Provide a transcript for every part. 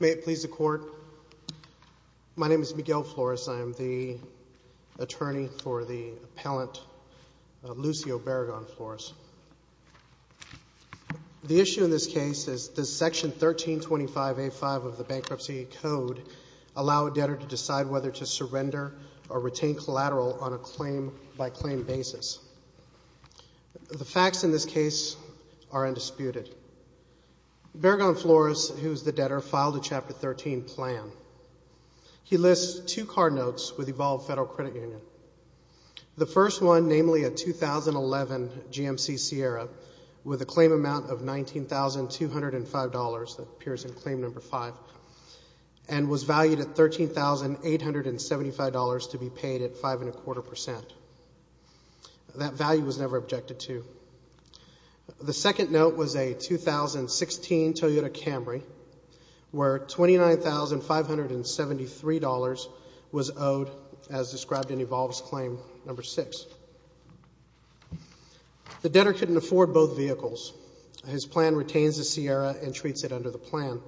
May it please the Court, my name is Miguel Flores, I am the attorney for the appellant Lucio Berragon-Flores. The issue in this case is does section 1325A5 of the Bankruptcy Code allow a debtor to decide whether to surrender or retain collateral on a claim-by-claim basis. The facts in this case are undisputed. Berragon-Flores, who is the debtor, filed a Chapter 13 plan. He lists two card notes with Evolve Federal Credit Union. The first one, namely a 2011 GMC Sierra with a claim amount of $19,205, that appears in claim number five, and was valued at $13,875 to be paid at five and a quarter percent. That value was never $16,000 Toyota Camry, where $29,573 was owed, as described in Evolve's claim number six. The debtor couldn't afford both vehicles. His plan retains the Sierra and treats it under the plan.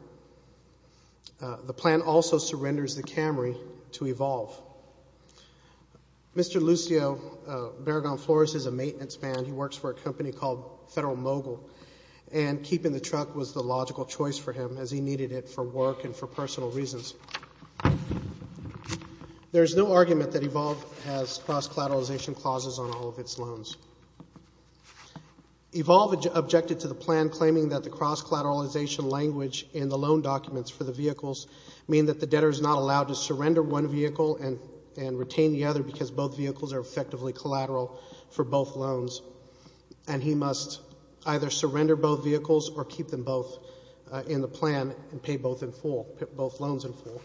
The plan also surrenders the Camry to Evolve. Mr. Lucio Berragon-Flores is a maintenance man. He works for a company called Federal Mogul, and keeping the truck was the logical choice for him, as he needed it for work and for personal reasons. There is no argument that Evolve has cross-collateralization clauses on all of its loans. Evolve objected to the plan, claiming that the cross-collateralization language in the loan documents for the vehicles mean that the debtor is not allowed to surrender one vehicle and retain the other, because both vehicles are effectively collateral for both loans, and he must either surrender both vehicles or keep them both in the plan and pay both in full, both loans in full.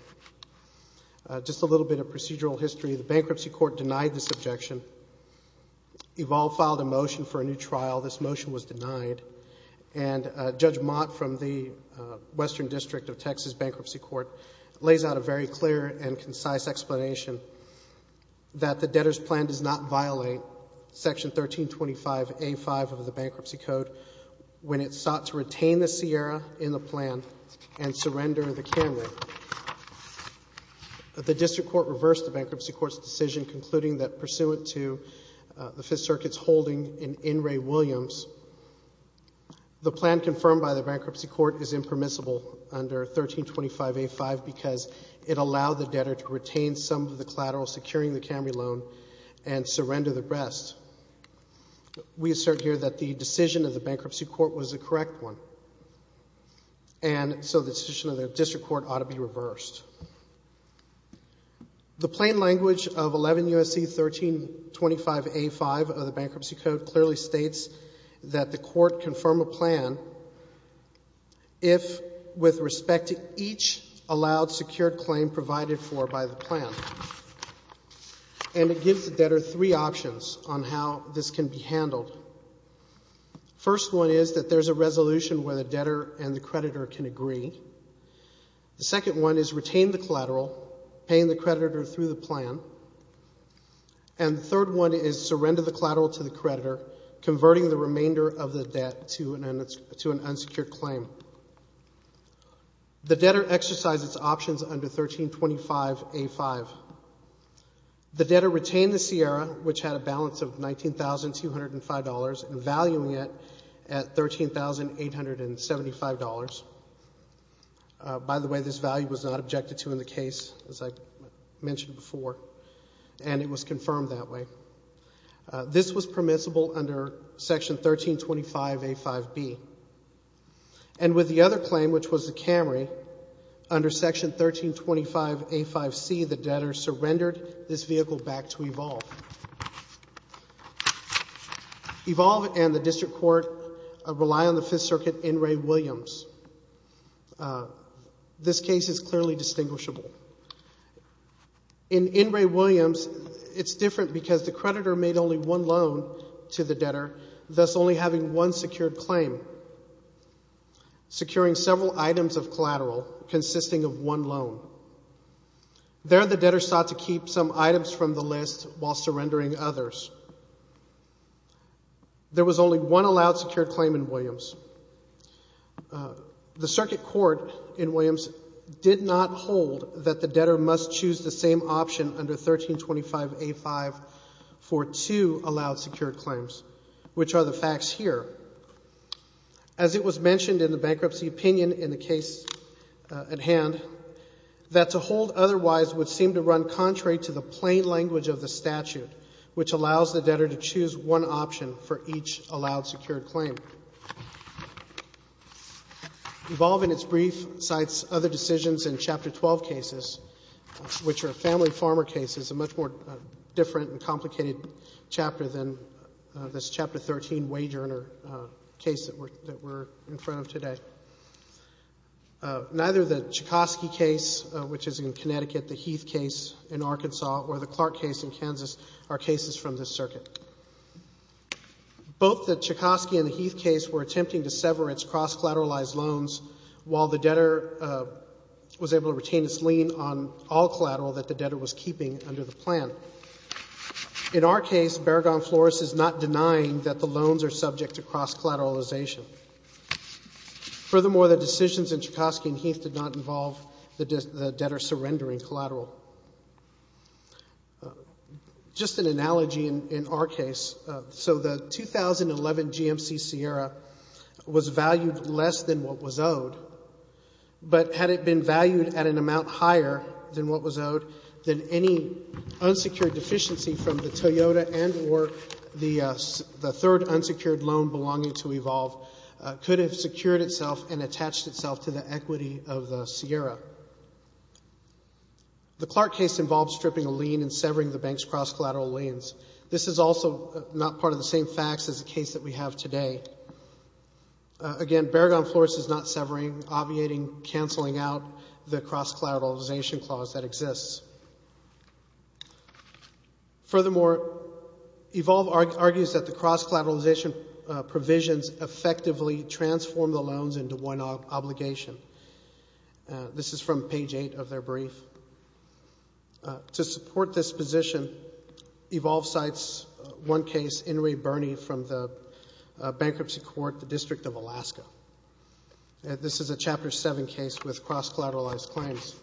Just a little bit of procedural history. The bankruptcy court denied this objection. Evolve filed a motion for a new trial. This motion was denied, and Judge Mott from the Western District of Texas Bankruptcy Court lays out a very clear and concise explanation that the debtor's plan does not violate Section 1325A5 of the Bankruptcy Code when it sought to retain the Sierra in the plan and surrender the Camry. The district court reversed the bankruptcy court's decision, concluding that pursuant to the Fifth Circuit's holding in In re Williams, the plan confirmed by the bankruptcy court is impermissible under 1325A5, because it allowed the debtor to retain some of the collateral securing the Camry loan and surrender the rest. We assert here that the decision of the bankruptcy court was the correct one, and so the decision of the district court ought to be reversed. The court confirm a plan if, with respect to each allowed secured claim provided for by the plan. And it gives the debtor three options on how this can be handled. First one is that there's a resolution where the debtor and the creditor can agree. The second one is retain the collateral, paying the creditor through the plan. And the remainder of the debt to an unsecured claim. The debtor exercises options under 1325A5. The debtor retained the Sierra, which had a balance of $19,205, and valuing it at $13,875. By the way, this value was not objected to in the case, as I mentioned before, and it was confirmed that way. This was permissible under section 1325A5B. And with the other claim, which was the Camry, under section 1325A5C, the debtor surrendered this vehicle back to Evolve. Evolve and the district court rely on the Fifth Circuit, N. Ray Williams. This case is clearly distinguishable. In N. Ray Williams, it's different because the creditor made only one loan to the debtor, thus only having one secured claim, securing several items of collateral consisting of one loan. There, the debtor sought to keep some items from the list while surrendering others. There was only one allowed secured claim in Williams. The circuit court in Williams did not hold that the debtor must choose the same option under 1325A5 for two allowed secured claims, which are the facts here. As it was mentioned in the bankruptcy opinion in the case at hand, that to hold otherwise would seem to run contrary to the plain language of the statute, which allows the debtor to choose one option for each allowed secured claim. Evolve, in its brief, cites other decisions in Chapter 12 cases, which are family farmer cases, a much more different and complicated chapter than this Chapter 13 wage earner case that we're in front of today. Neither the Chekovsky case, which is in Connecticut, the Heath case in Arkansas, or the Clark case in Kansas are cases from this circuit. Both the Chekovsky and the Heath case were attempting to sever its cross-collateralized loans while the debtor was able to retain its lien on all collateral that the debtor was keeping under the plan. In our case, Berragon-Flores is not denying that the loans are subject to cross-collateralization. Furthermore, the decisions in Chekovsky and Heath did not involve the debtor surrendering collateral. Just an analogy in our case, so the 2011 GMC Sierra was valued less than what was owed, but had it been valued at an amount higher than what was owed, then any unsecured deficiency from the Toyota and or the third unsecured loan belonging to Evolve could have secured itself and attached itself to the equity of the Sierra. The Clark case involved stripping a lien and severing the bank's cross-collateral liens. This is also not part of the same facts as the case that we have today. Again, Berragon-Flores is not severing, obviating, canceling out the cross-collateralization clause that exists. Furthermore, Evolve argues that the cross-collateralization provisions effectively transform the loan into one obligation. This is from page 8 of their brief. To support this position, Evolve cites one case, Inouye Burney from the bankruptcy court, the District of Alaska. This is a Chapter 7 case with cross-collateralized claims.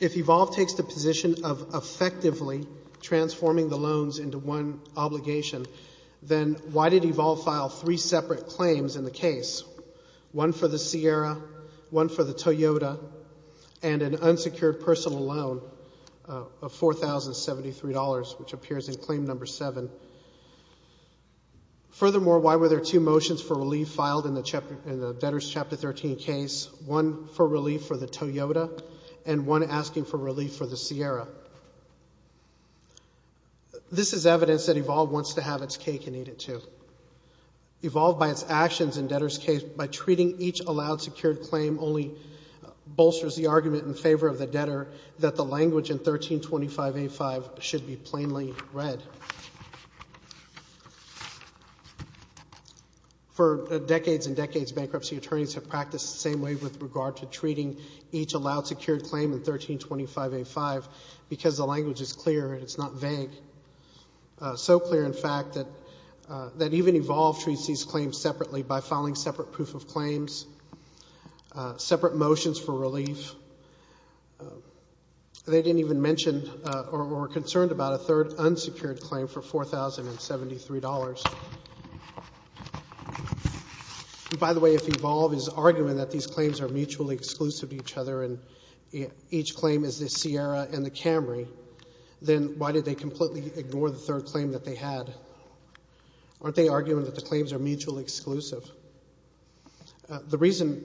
If Evolve takes the position of effectively transforming the loans into one obligation, then why did Evolve file three separate claims in the case? One for the Sierra, one for the Toyota, and an unsecured personal loan of $4,073, which appears in claim number 7. Furthermore, why were there two motions for relief filed in the debtors' Chapter 13 case, one for relief for the Toyota and one asking for relief for the Sierra? This is evidence that Evolve wants to have its cake and eat it too. Evolve, by its actions in debtors' case, by treating each allowed secured claim, only bolsters the argument in favor of the debtor that the language in 1325A5 should be plainly read. For decades and decades, bankruptcy attorneys have practiced the same way with regard to because the language is clear and it's not vague. So clear, in fact, that even Evolve treats these claims separately by filing separate proof of claims, separate motions for relief. They didn't even mention or were concerned about a third unsecured claim for $4,073. By the way, if Evolve is arguing that these claims are mutually exclusive to each other and each claim is the Sierra and the Camry, then why did they completely ignore the third claim that they had? Aren't they arguing that the claims are mutually exclusive? The reason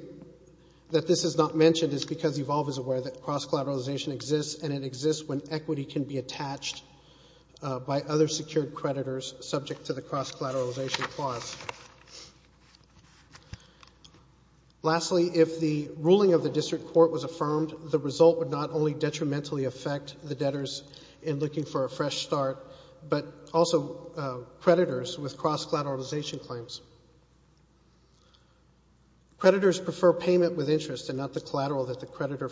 that this is not mentioned is because Evolve is aware that cross-collateralization exists and it exists when equity can be attached by other secured creditors subject to the cross-collateralization clause. Lastly, if the ruling of the district court was affirmed, the result would not only detrimentally affect the debtors in looking for a fresh start, but also creditors with cross-collateralization claims. Creditors prefer payment with interest and not the collateral that the creditor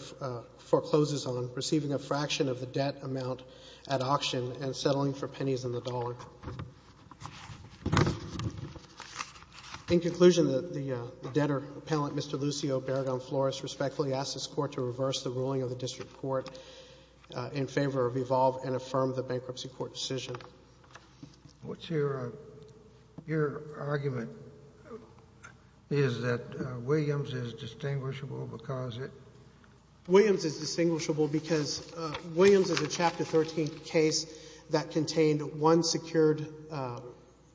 forecloses on, receiving a fraction of the debt amount at auction and settling for pennies in the dollar. In conclusion, the debtor appellant, Mr. Lucio Beragam Flores, respectfully asked this Court to reverse the ruling of the district court in favor of Evolve and affirm the bankruptcy court decision. Scalia. What's your argument is that Williams is distinguishable because it — one secured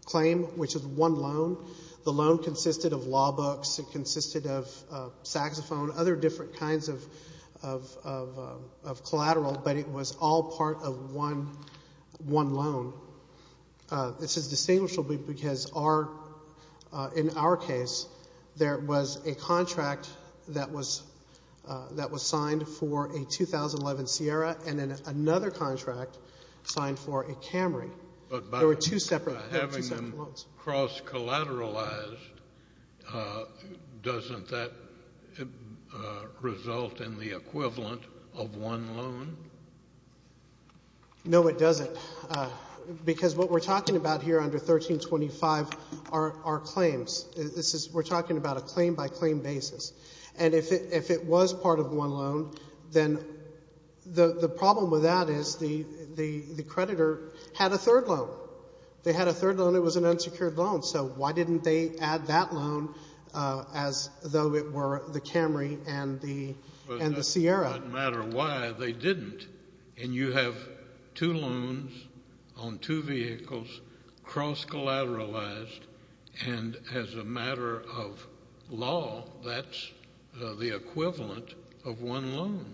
claim, which is one loan. The loan consisted of law books. It consisted of saxophone, other different kinds of collateral, but it was all part of one loan. This is distinguishable because our — in our case, there was a contract that was signed for a 2011 Sierra and then there were two separate loans. But by having them cross-collateralized, doesn't that result in the equivalent of one loan? No, it doesn't, because what we're talking about here under 1325 are claims. This is — we're talking about a claim-by-claim basis. And if it was part of one loan, then the problem with that is the creditor had a third loan. They had a third loan. It was an unsecured loan. So why didn't they add that loan as though it were the Camry and the Sierra? It doesn't matter why they didn't. And you have two loans on two vehicles, cross-collateralized, and as a matter of law, that's the equivalent of one loan.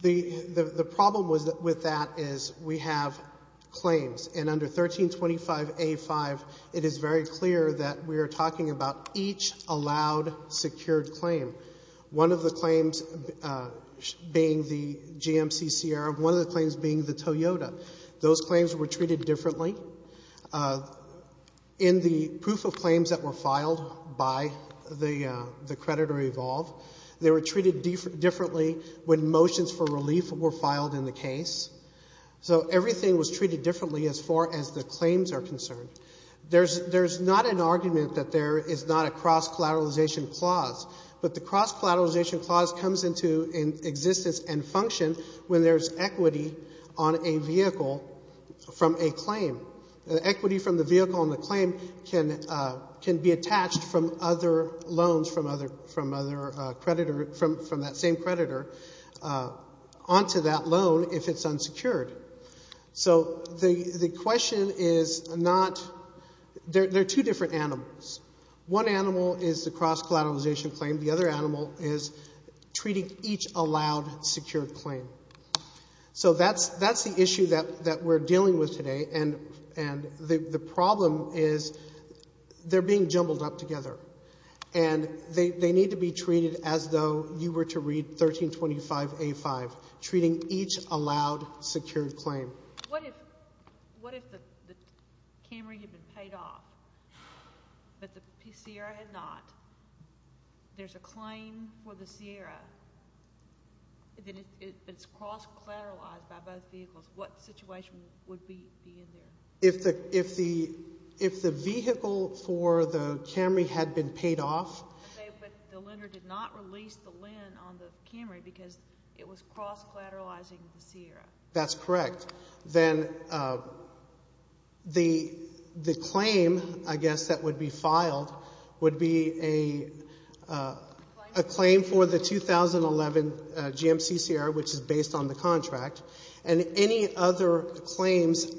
The problem with that is we have claims. And under 1325A5, it is very clear that we are talking about each allowed secured claim, one of the claims being the GMC Sierra, one of the claims being the Toyota. Those claims were treated differently in the proof of claims that were filed by the creditor-evolved. They were treated differently when motions for relief were filed in the case. So everything was treated differently as far as the claims are concerned. There's not an argument that there is not a cross-collateralization clause. But the on a vehicle from a claim. The equity from the vehicle on the claim can be attached from other loans from that same creditor onto that loan if it's unsecured. So the question is not—there are two different animals. One animal is the cross-collateralization claim. The other animal is treating each allowed secured claim. So that's the issue that we're dealing with today. And the problem is they're being jumbled up together. And they need to be treated as though you were to read 1325A5, treating each allowed secured claim. What if the Camry had been paid off, but the Sierra had not? There's a claim for the Sierra. If it's cross-collateralized by both vehicles, what situation would be in there? If the vehicle for the Camry had been paid off— But the lender did not release the LEND on the Camry because it was cross-collateralizing the Sierra. That's correct. Then the claim, I guess, that would be filed would be a claim for the 2011 GMC Sierra, which is based on the contract, and any other claims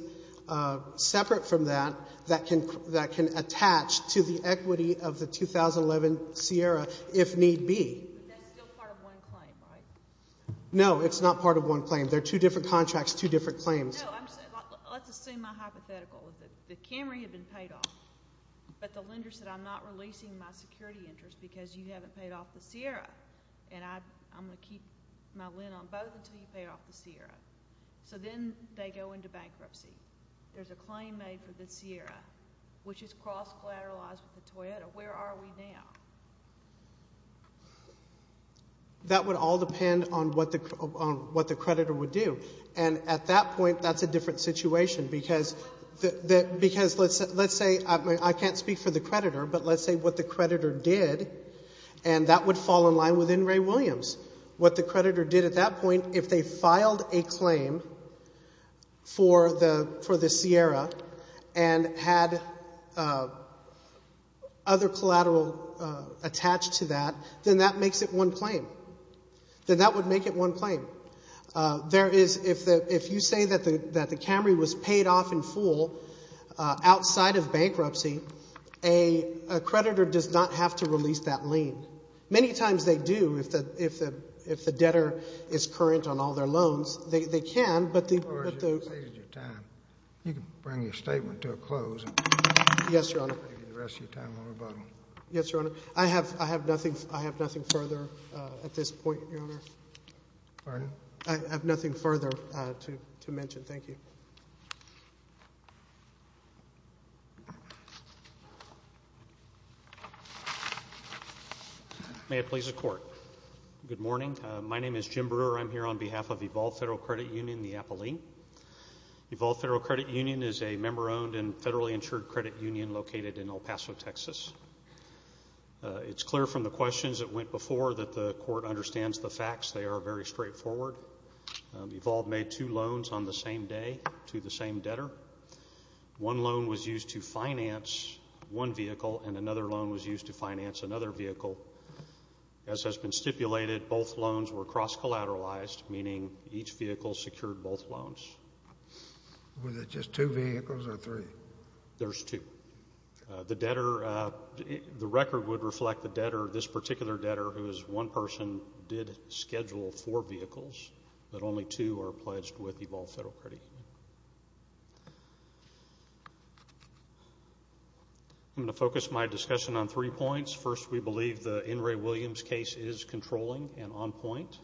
separate from that that can attach to the equity of the 2011 Sierra if need be. But that's still part of one claim, right? No, it's not part of one claim. They're two different contracts, two different claims. No, let's assume my hypothetical. The Camry had been paid off, but the lender said, I'm not releasing my security interest because you haven't paid off the Sierra, and I'm going to keep my LEND on both until you pay off the Sierra. So then they go into bankruptcy. There's a claim made for the Sierra, which is cross-collateralized with the Toyota. Where are we now? That would all depend on what the creditor would do, and at that point, that's a different situation because let's say—I can't speak for the creditor, but let's say what the creditor did, and that would fall in line with In re Williams. What the creditor did at that point, if they filed a claim for the Sierra and had other collateral attached to that, then that makes it one claim. Then that would make it one claim. If you say that the Camry was paid off in full outside of bankruptcy, a creditor does not have to release that lien. Many times they do if the debtor is current on all their loans. They can, but the— As far as you've stated your time, you can bring your statement to a close and— Yes, Your Honor. —take the rest of your time on rebuttal. Yes, Your Honor. I have nothing further at this point, Your Honor. Pardon? I have nothing further to mention. Thank you. May it please the Court. Good morning. My name is Jim Brewer. I'm here on behalf of Evolve Federal Credit Union, the APLE. Evolve Federal Credit Union is a member-owned and federally insured credit union located in El Paso, Texas. It's clear from the questions that went before that the Court understands the facts. They are very straightforward. Evolve made two loans on the same day to the same debtor. One loan was used to finance one vehicle, and another loan was used to finance another vehicle. As has been stipulated, both loans were cross-collateralized, meaning each vehicle secured both loans. Was it just two vehicles or three? There's two. The debtor—the record would reflect the debtor, this particular debtor, who is one person, did schedule four vehicles, but only two are pledged with Evolve Federal Credit Union. I'm going to focus my discussion on three points. First, we believe the In re. Williams case is controlling and on point.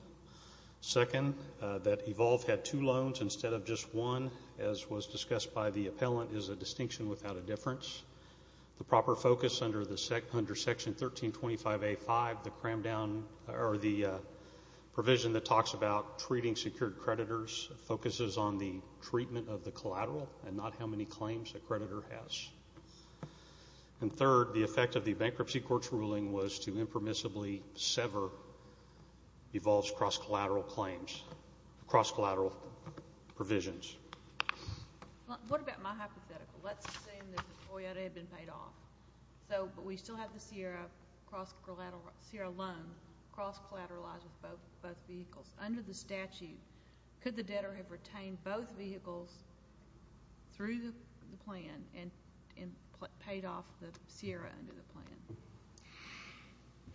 Second, that Evolve had two loans instead of just one, as was discussed by the appellant, is a distinction without a difference. The proper focus under Section 1325A.5, the provision that talks about treating secured creditors, focuses on the treatment of the collateral and not how many claims a creditor has. And third, the effect of the bankruptcy court's ruling was to impermissibly sever Evolve's cross-collateral claims—cross-collateral provisions. What about my hypothetical? Let's assume that the Toyota had been paid off, but we still have the Sierra loan cross-collateralized with both vehicles. Under the statute, could the debtor have retained both vehicles through the plan and paid off the Sierra under the plan?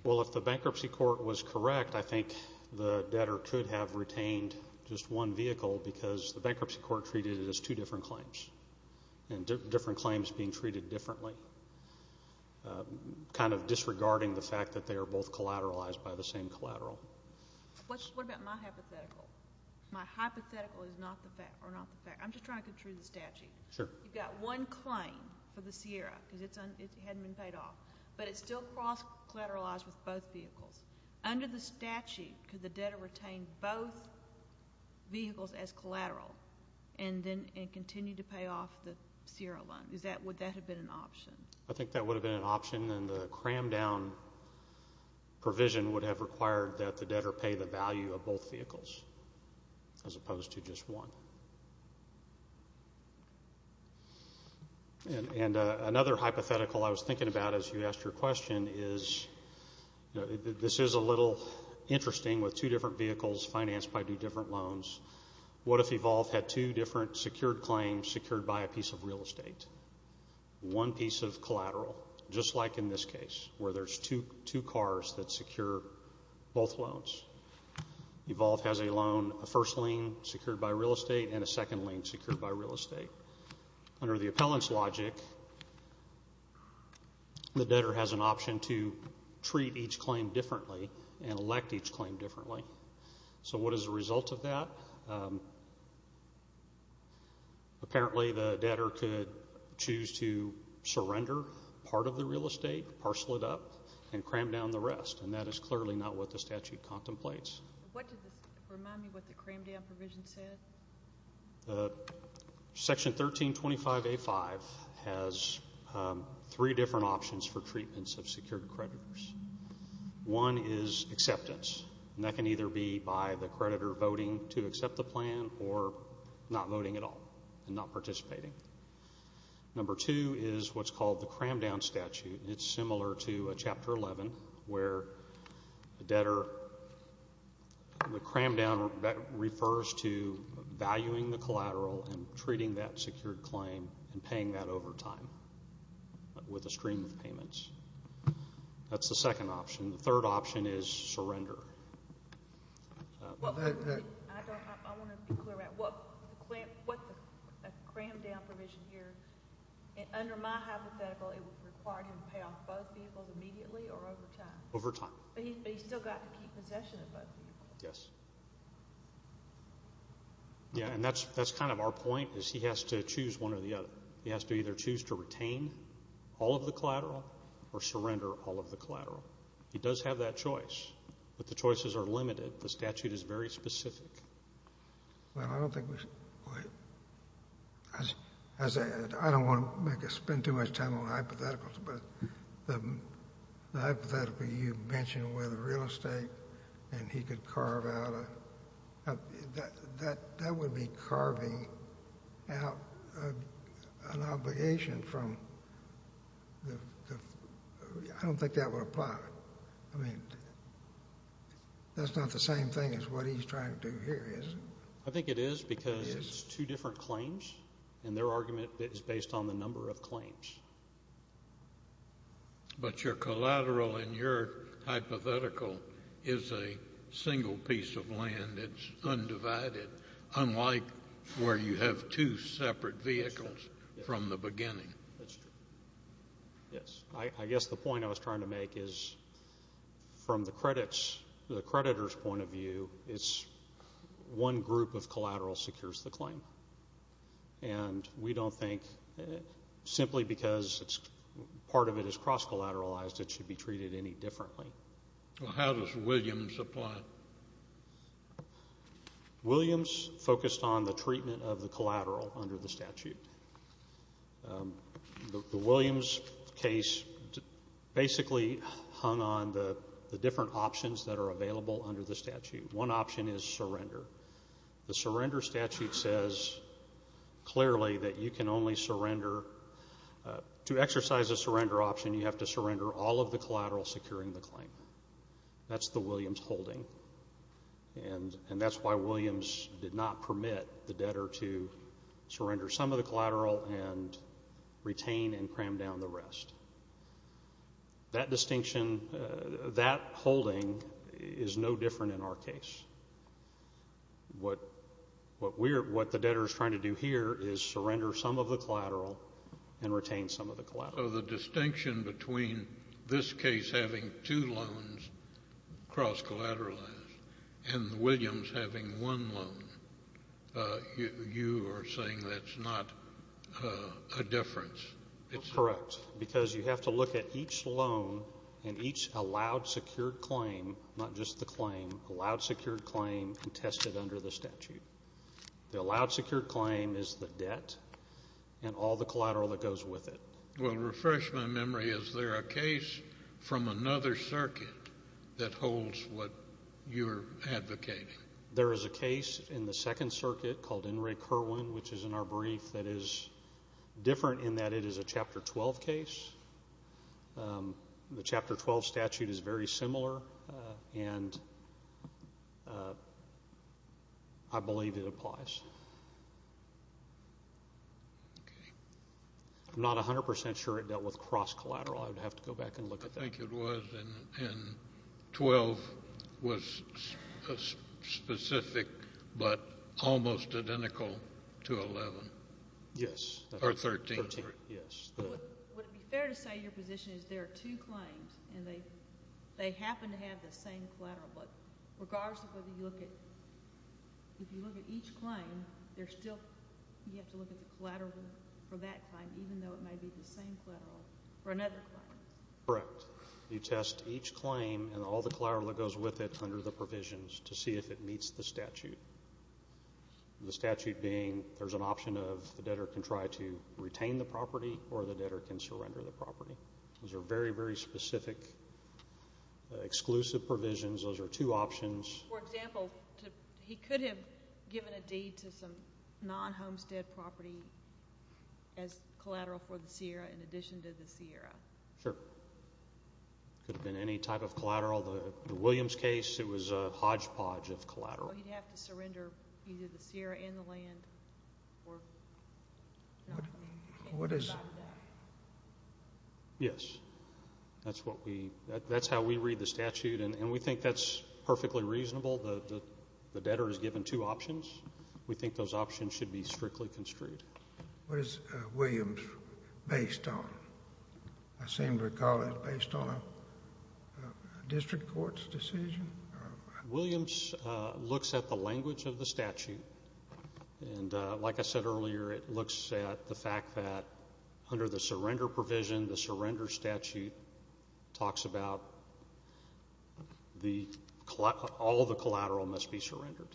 Well, if the bankruptcy court was correct, I think the debtor could have retained just one vehicle because the bankruptcy court treated it as two different claims, and different claims being treated differently, kind of disregarding the fact that they are both collateralized by the same collateral. What about my hypothetical? My hypothetical is not the fact—or not the fact—I'm just trying to contrive the statute. Sure. You've got one claim for the Sierra because it hadn't been paid off, but it's still cross-collateralized with both vehicles. Under the statute, could the debtor retain both vehicles as collateral and continue to pay off the Sierra loan? Would that have been an option? I think that would have been an option, and the cram-down provision would have required that the debtor pay the value of both vehicles as opposed to just one. And another hypothetical I was thinking about as you asked your question is, this is a little interesting with two different vehicles financed by two different loans. What if Evolve had two different secured claims secured by a piece of real estate? One piece of collateral, just like in this case, where there's two cars that secure both loans. Evolve has a loan, a first lien secured by real estate and a second lien secured by real estate. Under the appellant's logic, the debtor has an option to treat each claim differently and elect each claim differently. So what is the result of that? Apparently, the debtor could choose to surrender part of the real estate, parcel it up, and cram down the rest, and that is clearly not what the statute contemplates. What does this remind me of what the cram-down provision said? Section 1325A5 has three different options for treatments of secured creditors. One is acceptance, and that can either be by the creditor voting to accept the plan or not voting at all and not participating. Number two is what's called the cram-down statute, and it's similar to Chapter 11, where the debtor, the cram-down refers to valuing the collateral and treating that secured claim and paying that over time with a stream of payments. That's the second option. The third option is surrender. I want to be clear. What the cram-down provision here, under my hypothetical, it would require him to pay off both vehicles immediately or over time? Over time. But he's still got to keep possession of both vehicles. Yes. Yeah, and that's kind of our point, is he has to choose one or the other. He has to either choose to retain all of the collateral or surrender all of the collateral. He does have that choice, but the choices are limited. The statute is very specific. Well, I don't think we should wait. I don't want to spend too much time on hypotheticals, but the hypothetical you mentioned where the real estate and he could carve out, that would be carving out an obligation from the, I don't think that would apply. I mean, that's not the same thing as what he's trying to do here, is it? I think it is because it's two different claims, and their argument is based on the number of claims. But your collateral in your hypothetical is a single piece of land. It's undivided, unlike where you have two separate vehicles from the beginning. That's true. Yes. I guess the point I was trying to make is, from the creditor's point of view, it's one group of collateral secures the claim. And we don't think, simply because part of it is cross-collateralized, it should be treated any differently. Well, how does Williams apply? Williams focused on the treatment of the collateral under the statute. The Williams case basically hung on the different options that are available under the statute. One option is surrender. The surrender statute says clearly that you can only surrender, to exercise a surrender option, you have to surrender all of the collateral securing the claim. That's the Williams holding. And that's why Williams did not permit the debtor to surrender some of the collateral and retain and cram down the rest. That distinction, that holding, is no different in our case. What the debtor is trying to do here is surrender some of the collateral and retain some of the collateral. So the distinction between this case having two loans cross-collateralized and Williams having one loan, you are saying that's not a difference? Correct, because you have to look at each loan and each allowed secured claim, not just the claim, allowed secured claim and test it under the statute. The allowed secured claim is the debt and all the collateral that goes with it. Well, to refresh my memory, is there a case from another circuit that holds what you're advocating? There is a case in the second circuit called In Re Curwen, which is in our brief, that is different in that it is a Chapter 12 case. The Chapter 12 statute is very similar, and I believe it applies. I'm not 100% sure it dealt with cross-collateral. I would have to go back and look at that. I think it was, and 12 was specific but almost identical to 11. Yes. Or 13. Yes. Would it be fair to say your position is there are two claims, and they happen to have the same collateral, but regardless of whether you look at, if you look at each claim, you have to look at the collateral for that claim, even though it may be the same collateral for another claim. Correct. You test each claim and all the collateral that goes with it under the provisions to see if it meets the statute, the statute being there's an option of the debtor can try to retain the property or the debtor can surrender the property. Those are very, very specific, exclusive provisions. Those are two options. For example, he could have given a deed to some non-homestead property as collateral for the Sierra Sure. It could have been any type of collateral. The Williams case, it was a hodgepodge of collateral. He'd have to surrender either the Sierra and the land. Yes. That's what we, that's how we read the statute, and we think that's perfectly reasonable. The debtor is given two options. We think those options should be strictly construed. What is Williams based on? I seem to recall it's based on a district court's decision. Williams looks at the language of the statute, and like I said earlier, it looks at the fact that under the surrender provision, the surrender statute talks about all the collateral must be surrendered.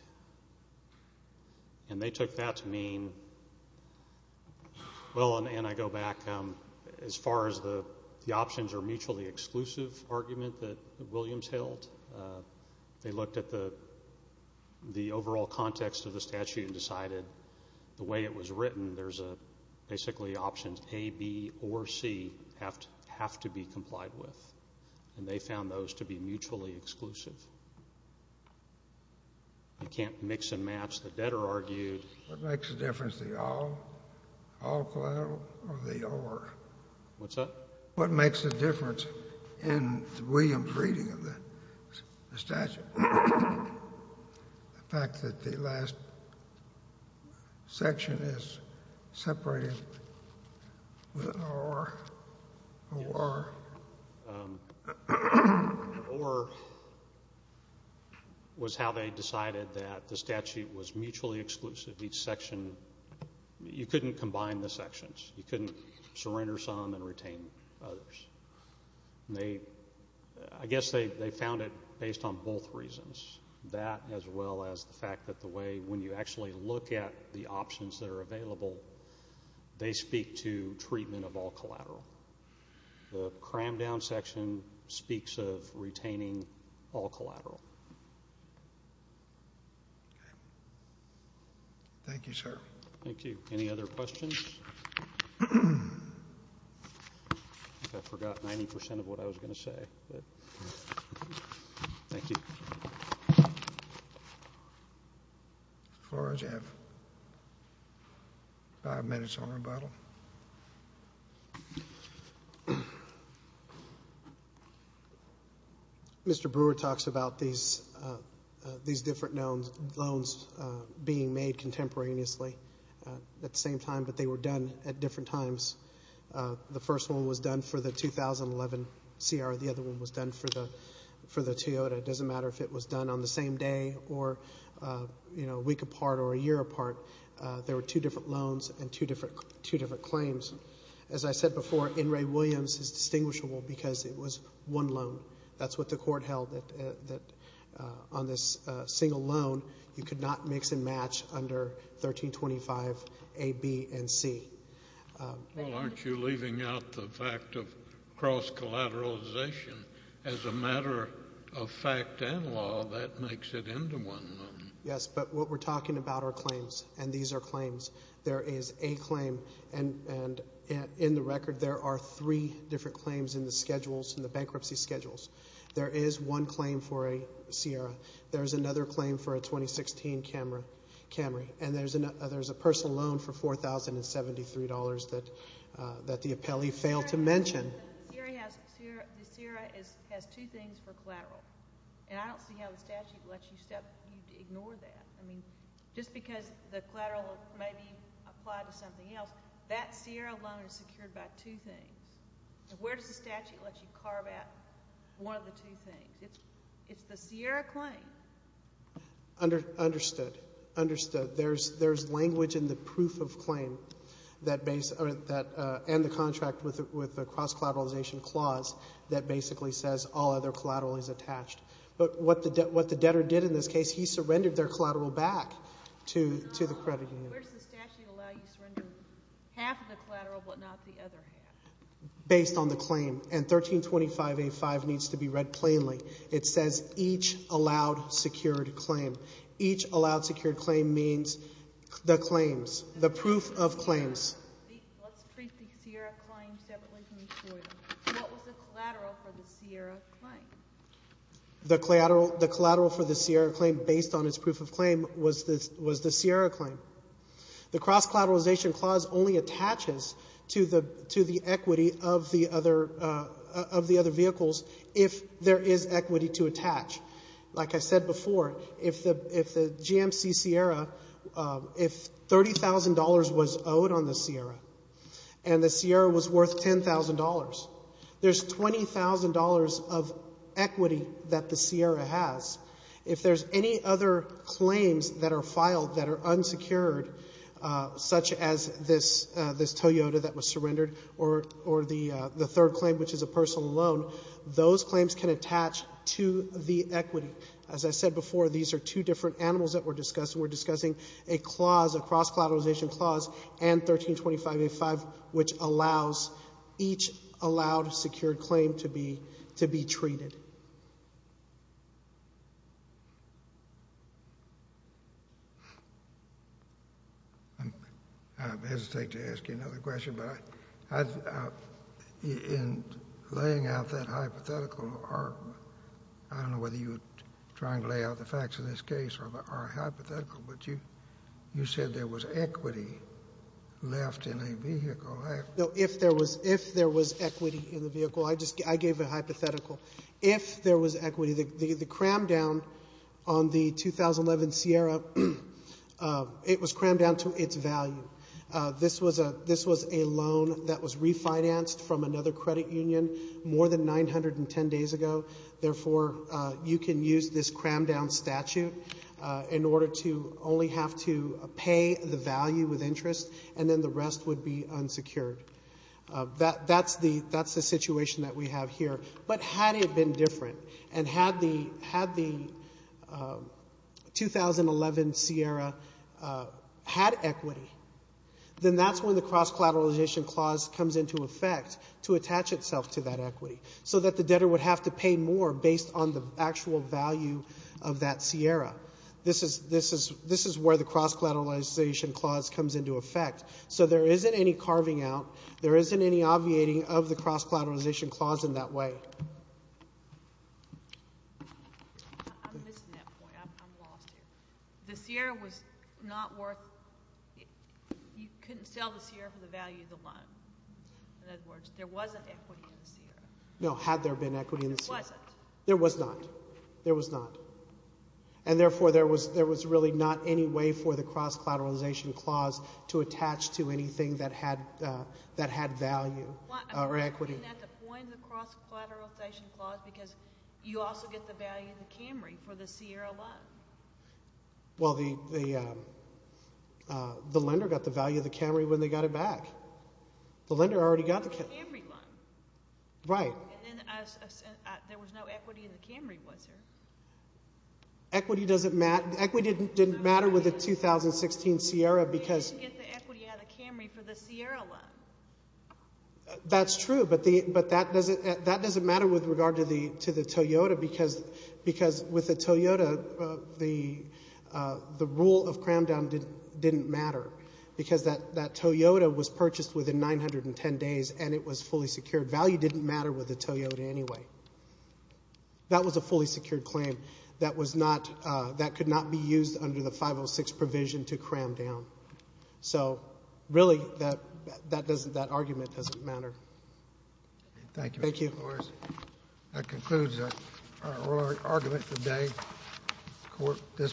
And they took that to mean, well, and I go back, as far as the options are mutually exclusive argument that Williams held, they looked at the overall context of the statute and decided the way it was written, there's basically options A, B, or C have to be complied with, and they found those to be mutually exclusive. You can't mix and match. The debtor argued. What makes a difference, the all collateral or the or? What's that? What makes a difference in Williams' reading of the statute? The fact that the last section is separated with or, or. Or was how they decided that the statute was mutually exclusive. Each section, you couldn't combine the sections. You couldn't surrender some and retain others. I guess they found it based on both reasons, that as well as the fact that the way when you actually look at the options that are available, they speak to treatment of all collateral. The cram down section speaks of retaining all collateral. Thank you, sir. Thank you. Any other questions? I think I forgot 90% of what I was going to say. Thank you. Mr. Flores, you have five minutes on rebuttal. Mr. Brewer talks about these different loans being made contemporaneously at the same time, but they were done at different times. The first one was done for the 2011 CR. The other one was done for the Toyota. It doesn't matter if it was done on the same day or a week apart or a year apart. There were two different loans and two different claims. As I said before, In re Williams is distinguishable because it was one loan. That's what the court held, that on this single loan, you could not mix and match under 1325A, B, and C. Well, aren't you leaving out the fact of cross-collateralization? As a matter of fact and law, that makes it into one loan. Yes, but what we're talking about are claims, and these are claims. There is a claim, and in the record, there are three different claims in the schedules, in the bankruptcy schedules. There is one claim for a CR. There is another claim for a 2016 Camry, and there's a personal loan for $4,073 that the appellee failed to mention. The CR has two things for collateral, and I don't see how the statute lets you ignore that. I mean, just because the collateral may be applied to something else, that CR loan is secured by two things. Where does the statute let you carve out one of the two things? It's the CR claim. Understood, understood. There's language in the proof of claim and the contract with the cross-collateralization clause that basically says all other collateral is attached. But what the debtor did in this case, he surrendered their collateral back to the credit union. Where does the statute allow you to surrender half of the collateral but not the other half? Based on the claim, and 1325A5 needs to be read plainly. It says each allowed secured claim. Each allowed secured claim means the claims, the proof of claims. Let's treat the CR claim separately from each one. What was the collateral for the CR claim? The collateral for the CR claim based on its proof of claim was the CR claim. The cross-collateralization clause only attaches to the equity of the other vehicles if there is equity to attach. Like I said before, if the GMC Sierra, if $30,000 was owed on the Sierra and the Sierra was worth $10,000, there's $20,000 of equity that the Sierra has. If there's any other claims that are filed that are unsecured, such as this Toyota that was surrendered or the third claim, which is a personal loan, those claims can attach to the equity. As I said before, these are two different animals that were discussed. We're discussing a clause, a cross-collateralization clause, and 1325A5, which allows each allowed secured claim to be treated. I hesitate to ask you another question, but in laying out that hypothetical, I don't know whether you were trying to lay out the facts of this case or hypothetical, but you said there was equity left in a vehicle. No, if there was equity in the vehicle. I just gave a hypothetical. If there was equity, the cram down on the 2011 Sierra, it was crammed down to its value. This was a loan that was refinanced from another credit union more than 910 days ago. Therefore, you can use this crammed down statute in order to only have to pay the value with interest, and then the rest would be unsecured. That's the situation that we have here. But had it been different, and had the 2011 Sierra had equity, then that's when the cross-collateralization clause comes into effect to attach itself to that equity, so that the debtor would have to pay more based on the actual value of that Sierra. This is where the cross-collateralization clause comes into effect. So there isn't any carving out. There isn't any obviating of the cross-collateralization clause in that way. I'm missing that point. I'm lost here. The Sierra was not worth – you couldn't sell the Sierra for the value of the loan. In other words, there wasn't equity in the Sierra. No, had there been equity in the Sierra? There wasn't. There was not. There was not. There was no equity for the cross-collateralization clause to attach to anything that had value or equity. I'm not getting at the point of the cross-collateralization clause because you also get the value of the Camry for the Sierra loan. Well, the lender got the value of the Camry when they got it back. The lender already got the Camry loan. Right. And then there was no equity in the Camry, was there? Equity doesn't matter. Equity didn't matter with the 2016 Sierra because – You didn't get the equity out of the Camry for the Sierra loan. That's true, but that doesn't matter with regard to the Toyota because with the Toyota, the rule of cram down didn't matter because that Toyota was purchased within 910 days and it was fully secured. Value didn't matter with the Toyota anyway. That was a fully secured claim. That was not – that could not be used under the 506 provision to cram down. So, really, that doesn't – that argument doesn't matter. Thank you. Thank you. No worries. That concludes our oral argument today. Court is adjourned.